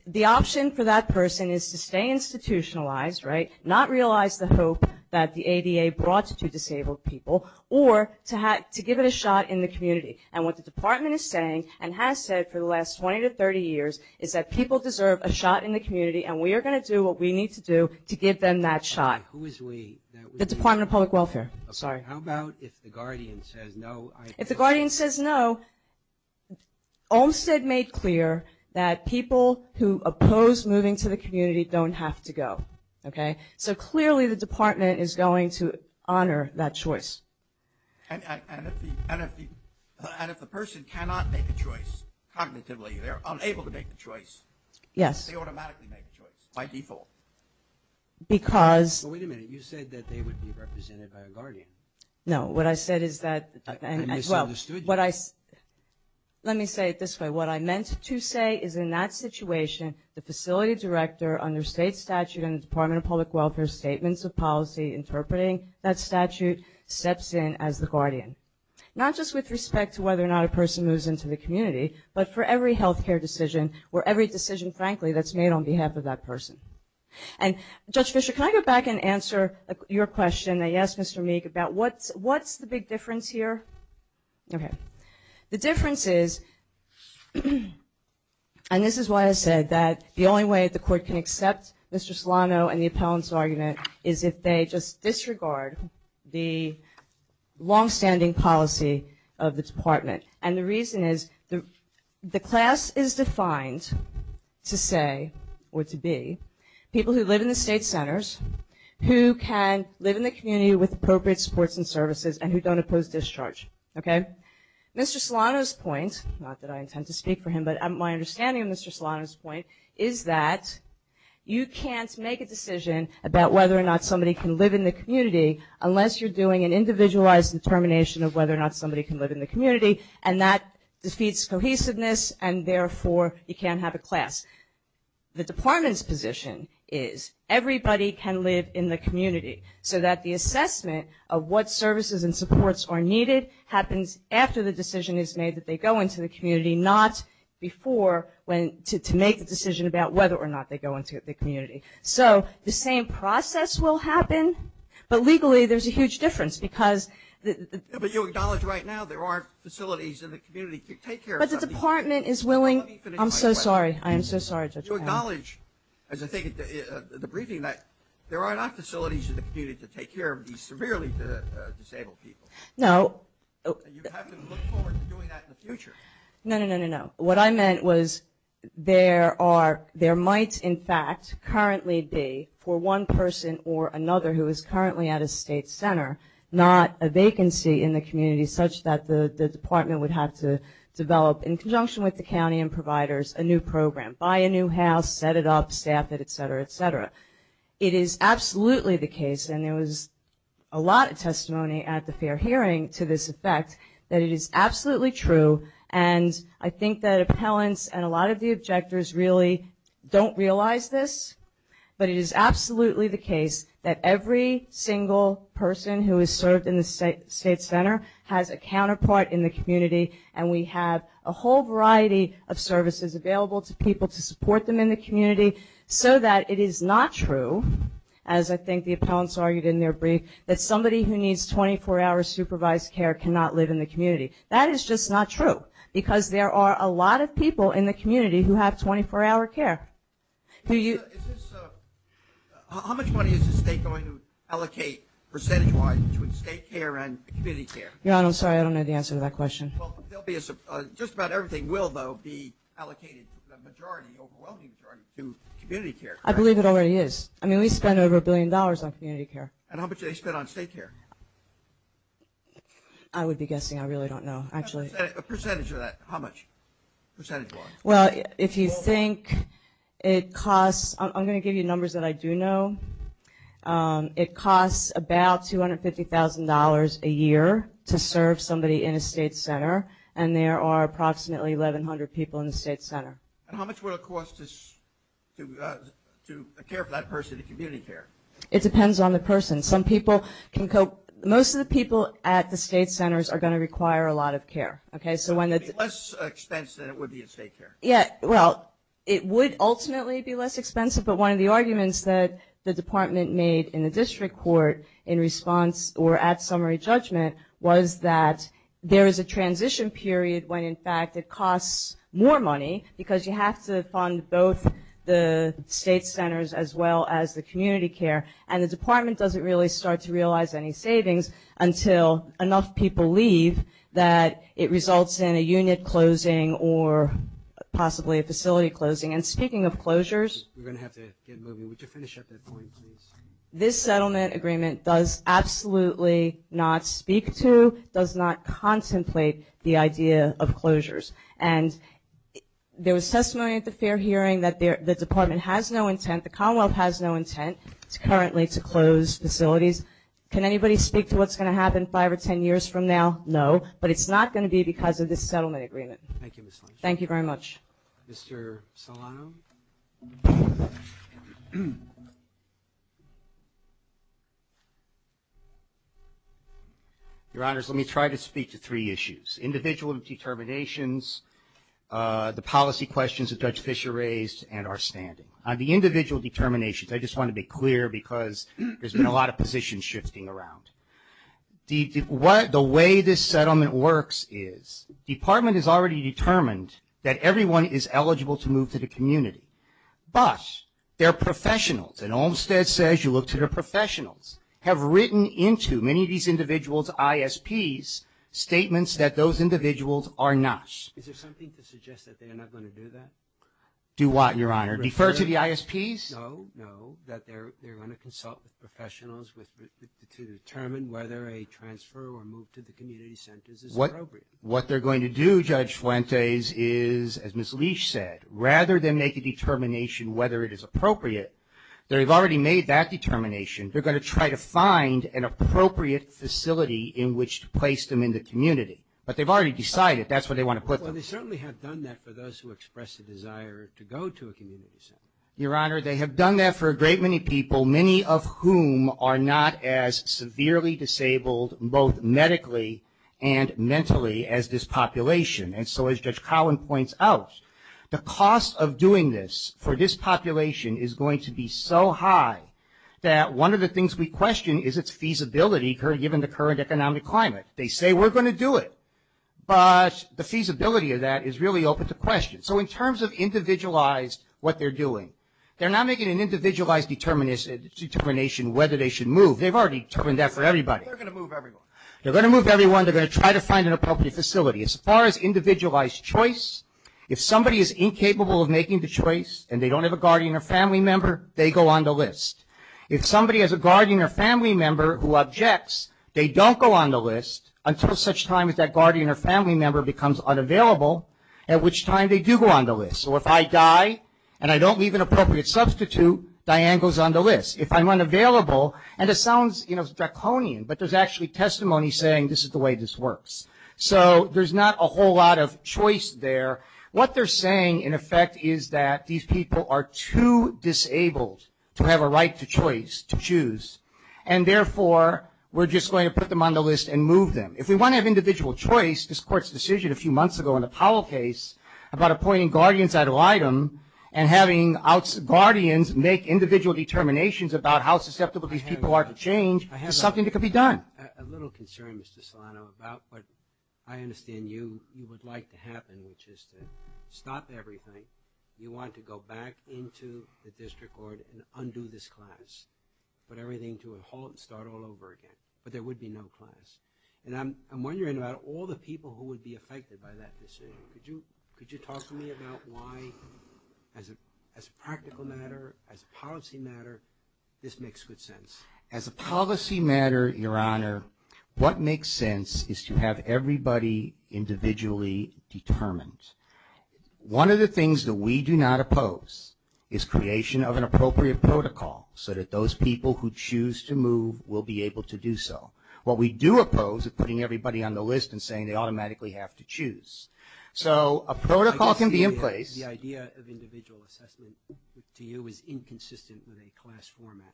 the option for that person is to stay institutionalized, right, not realize the hope that the ADA brought to disabled people, or to give it a shot in the community. And what the department is saying and has said for the last 20 to 30 years is that people deserve a shot in the community, and we are going to do what we need to do to give them that shot. Who is we? The Department of Public Welfare. Sorry. How about if the guardian says no? If the guardian says no, Olmstead made clear that people who oppose moving to the community don't have to go, okay? So clearly the department is going to honor that choice. And if the person cannot make a choice cognitively, they are unable to make the choice, they automatically make the choice by default. Because... Wait a minute. You said that they would be represented by a guardian. No. What I said is that... I misunderstood you. Let me say it this way. What I meant to say is in that situation, the facility director under state statute in the Department of Public Welfare statements of policy interpreting that statute steps in as the guardian. Not just with respect to whether or not a person moves into the community, but for every health care decision or every decision, frankly, that's made on behalf of that person. And Judge Fischer, can I go back and answer your question that you asked Mr. Meek about what's the big difference here? Okay. The difference is, and this is why I said that the only way the court can accept Mr. Solano and the appellant's argument is if they just disregard the longstanding policy of the department. And the reason is the class is defined to say or to be people who live in the state centers, who can live in the community with appropriate supports and services, and who don't oppose discharge, okay? Mr. Solano's point, not that I intend to speak for him, but my understanding of Mr. Solano's point is that you can't make a decision about whether or not somebody can live in the community unless you're doing an individualized determination of whether or not somebody can live in the community, and that defeats cohesiveness, and therefore you can't have a class. So that the assessment of what services and supports are needed happens after the decision is made that they go into the community, not before to make the decision about whether or not they go into the community. So the same process will happen, but legally there's a huge difference because the ---- But you acknowledge right now there are facilities in the community to take care of something. But the department is willing ---- Let me finish my question. I'm so sorry. I am so sorry, Judge Powell. You acknowledge, as I think of the briefing, that there are not facilities in the community to take care of these severely disabled people. No. You have to look forward to doing that in the future. No, no, no, no, no. What I meant was there are, there might in fact currently be for one person or another who is currently at a state center, not a vacancy in the community such that the department would have to develop in conjunction with the county and providers a new program, buy a new house, set it up, staff it, et cetera, et cetera. It is absolutely the case, and there was a lot of testimony at the fair hearing to this effect, that it is absolutely true, and I think that appellants and a lot of the objectors really don't realize this, but it is absolutely the case that every single person who has served in the state center has a counterpart in the community, and we have a whole variety of services available to people to support them in the community so that it is not true, as I think the appellants argued in their brief, that somebody who needs 24-hour supervised care cannot live in the community. That is just not true because there are a lot of people in the community who have 24-hour care. How much money is the state going to allocate percentage-wise between state care and community care? I'm sorry, I don't know the answer to that question. Just about everything will, though, be allocated, the overwhelming majority, to community care. I believe it already is. I mean, we spend over a billion dollars on community care. And how much do they spend on state care? I would be guessing. I really don't know, actually. A percentage of that, how much percentage-wise? Well, if you think it costs, I'm going to give you numbers that I do know. It costs about $250,000 a year to serve somebody in a state center, and there are approximately 1,100 people in the state center. And how much would it cost to care for that person in community care? It depends on the person. Most of the people at the state centers are going to require a lot of care. So it would be less expensive than it would be in state care. Yeah, well, it would ultimately be less expensive, but one of the arguments that the department made in the district court in response or at summary judgment was that there is a transition period when, in fact, it costs more money because you have to fund both the state centers as well as the community care, and the department doesn't really start to realize any savings until enough people leave that it results in a unit closing or possibly a facility closing. And speaking of closures, this settlement agreement does absolutely not speak to, does not contemplate the idea of closures. And there was testimony at the fair hearing that the department has no intent, the Commonwealth has no intent currently to close facilities. Can anybody speak to what's going to happen five or ten years from now? No, but it's not going to be because of this settlement agreement. Thank you, Ms. Lynch. Thank you very much. Mr. Solano. Your Honors, let me try to speak to three issues, individual determinations, the policy questions that Judge Fischer raised, and our standing. On the individual determinations, I just want to be clear because there's been a lot of positions shifting around. The way this settlement works is the department has already determined that everyone is eligible to move to the community, but their professionals, and Olmstead says you look to their professionals, have written into many of these individuals' ISPs statements that those individuals are not. Is there something to suggest that they're not going to do that? Do what, Your Honor? Refer to the ISPs? No, no, that they're going to consult with professionals to determine whether a transfer or move to the community centers is appropriate. What they're going to do, Judge Fuentes, is, as Ms. Leach said, rather than make a determination whether it is appropriate, they've already made that determination. They're going to try to find an appropriate facility in which to place them in the community, but they've already decided that's where they want to put them. Well, they certainly have done that for those who express a desire to go to a community center. Your Honor, they have done that for a great many people, many of whom are not as severely disabled, both medically and mentally, as this population. And so, as Judge Collin points out, the cost of doing this for this population is going to be so high that one of the things we question is its feasibility given the current economic climate. They say we're going to do it, but the feasibility of that is really open to question. So in terms of individualized what they're doing, they're not making an individualized determination whether they should move. They've already determined that for everybody. They're going to move everyone. They're going to move everyone. They're going to try to find an appropriate facility. As far as individualized choice, if somebody is incapable of making the choice and they don't have a guardian or family member, they go on the list. If somebody has a guardian or family member who objects, they don't go on the list until such time as that guardian or family member becomes unavailable, at which time they do go on the list. So if I die and I don't leave an appropriate substitute, Diane goes on the list. If I'm unavailable, and it sounds, you know, draconian, but there's actually testimony saying this is the way this works. So there's not a whole lot of choice there. What they're saying, in effect, is that these people are too disabled to have a right to choice, to choose, and therefore we're just going to put them on the list and move them. If we want to have individual choice, this Court's decision a few months ago in the Powell case about appointing guardians ad litem and having guardians make individual determinations about how susceptible these people are to change is something that could be done. I have a little concern, Mr. Solano, about what I understand you would like to happen, which is to stop everything. You want to go back into the district court and undo this class, put everything to a halt and start all over again, but there would be no class. And I'm wondering about all the people who would be affected by that decision. Could you talk to me about why, as a practical matter, as a policy matter, this makes good sense? As a policy matter, Your Honor, what makes sense is to have everybody individually determined. One of the things that we do not oppose is creation of an appropriate protocol so that those people who choose to move will be able to do so. What we do oppose is putting everybody on the list and saying they automatically have to choose. So a protocol can be in place. The idea of individual assessment to you is inconsistent with a class format.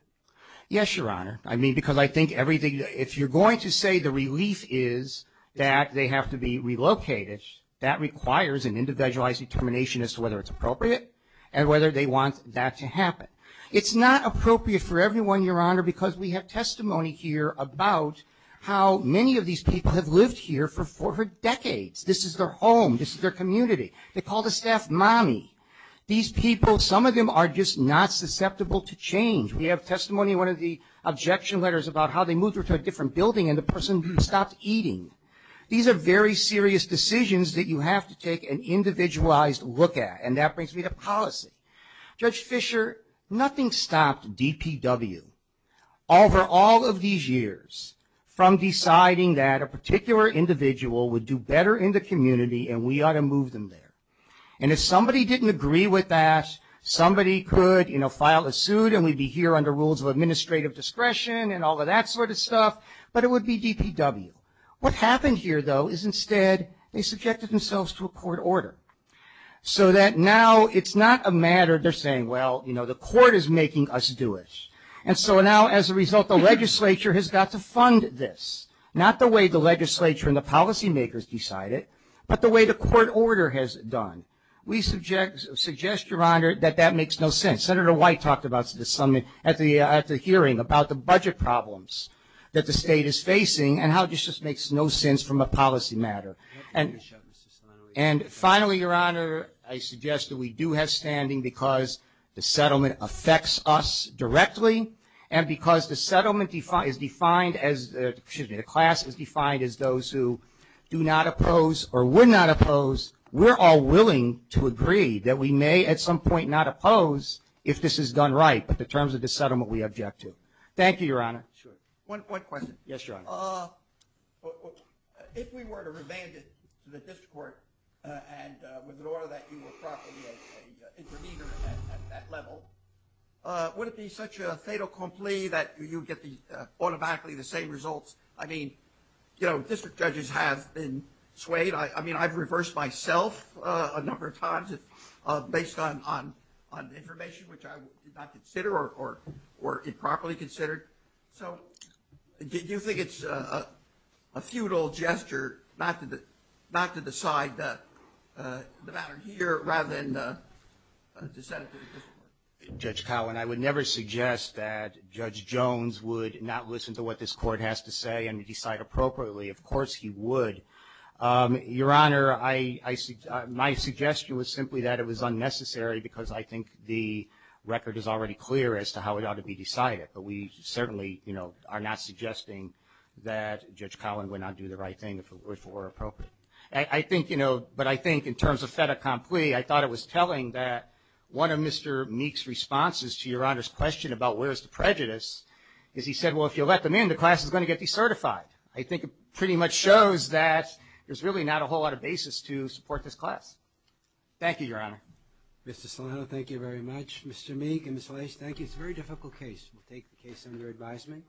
Yes, Your Honor. I mean, because I think everything, if you're going to say the relief is that they have to be relocated, that requires an individualized determination as to whether it's appropriate and whether they want that to happen. It's not appropriate for everyone, Your Honor, because we have testimony here about how many of these people have lived here for decades. This is their home. This is their community. They call the staff mommy. These people, some of them are just not susceptible to change. We have testimony in one of the objection letters about how they moved to a different building and the person stopped eating. These are very serious decisions that you have to take an individualized look at, and that brings me to policy. Judge Fischer, nothing stopped DPW over all of these years from deciding that a particular individual would do better in the community and we ought to move them there. And if somebody didn't agree with that, somebody could, you know, file a suit and we'd be here under rules of administrative discretion and all of that sort of stuff, but it would be DPW. What happened here, though, is instead they subjected themselves to a court order so that now it's not a matter they're saying, well, you know, the court is making us do it. And so now as a result the legislature has got to fund this, not the way the legislature and the policy makers decide it, but the way the court order has done. We suggest, Your Honor, that that makes no sense. Senator White talked about this at the hearing about the budget problems that the state is facing and how it just makes no sense from a policy matter. And finally, Your Honor, I suggest that we do have standing because the settlement affects us directly and because the class is defined as those who do not oppose or would not oppose, we're all willing to agree that we may at some point not oppose if this is done right in terms of the settlement we object to. Thank you, Your Honor. One question. Yes, Your Honor. If we were to revamp it to the district court and with an order that you were properly an intervener at that level, would it be such a fait accompli that you get automatically the same results? I mean, you know, district judges have been swayed. I mean, I've reversed myself a number of times based on information which I did not consider or improperly considered. So do you think it's a futile gesture not to decide the matter here rather than to send it to the district court? Judge Cowan, I would never suggest that Judge Jones would not listen to what this court has to say and decide appropriately. Of course he would. Your Honor, my suggestion was simply that it was unnecessary because I think the record is already clear as to how it ought to be decided. But we certainly, you know, are not suggesting that Judge Cowan would not do the right thing if it were appropriate. I think, you know, but I think in terms of fait accompli, I thought it was telling that one of Mr. Meek's responses to Your Honor's question about where is the prejudice is he said, well, if you let them in, the class is going to get decertified. I think it pretty much shows that there's really not a whole lot of basis to support this class. Thank you, Your Honor. Mr. Solano, thank you very much. Mr. Meek and Ms. Walsh, thank you. It's a very difficult case. We'll take the case under advisement.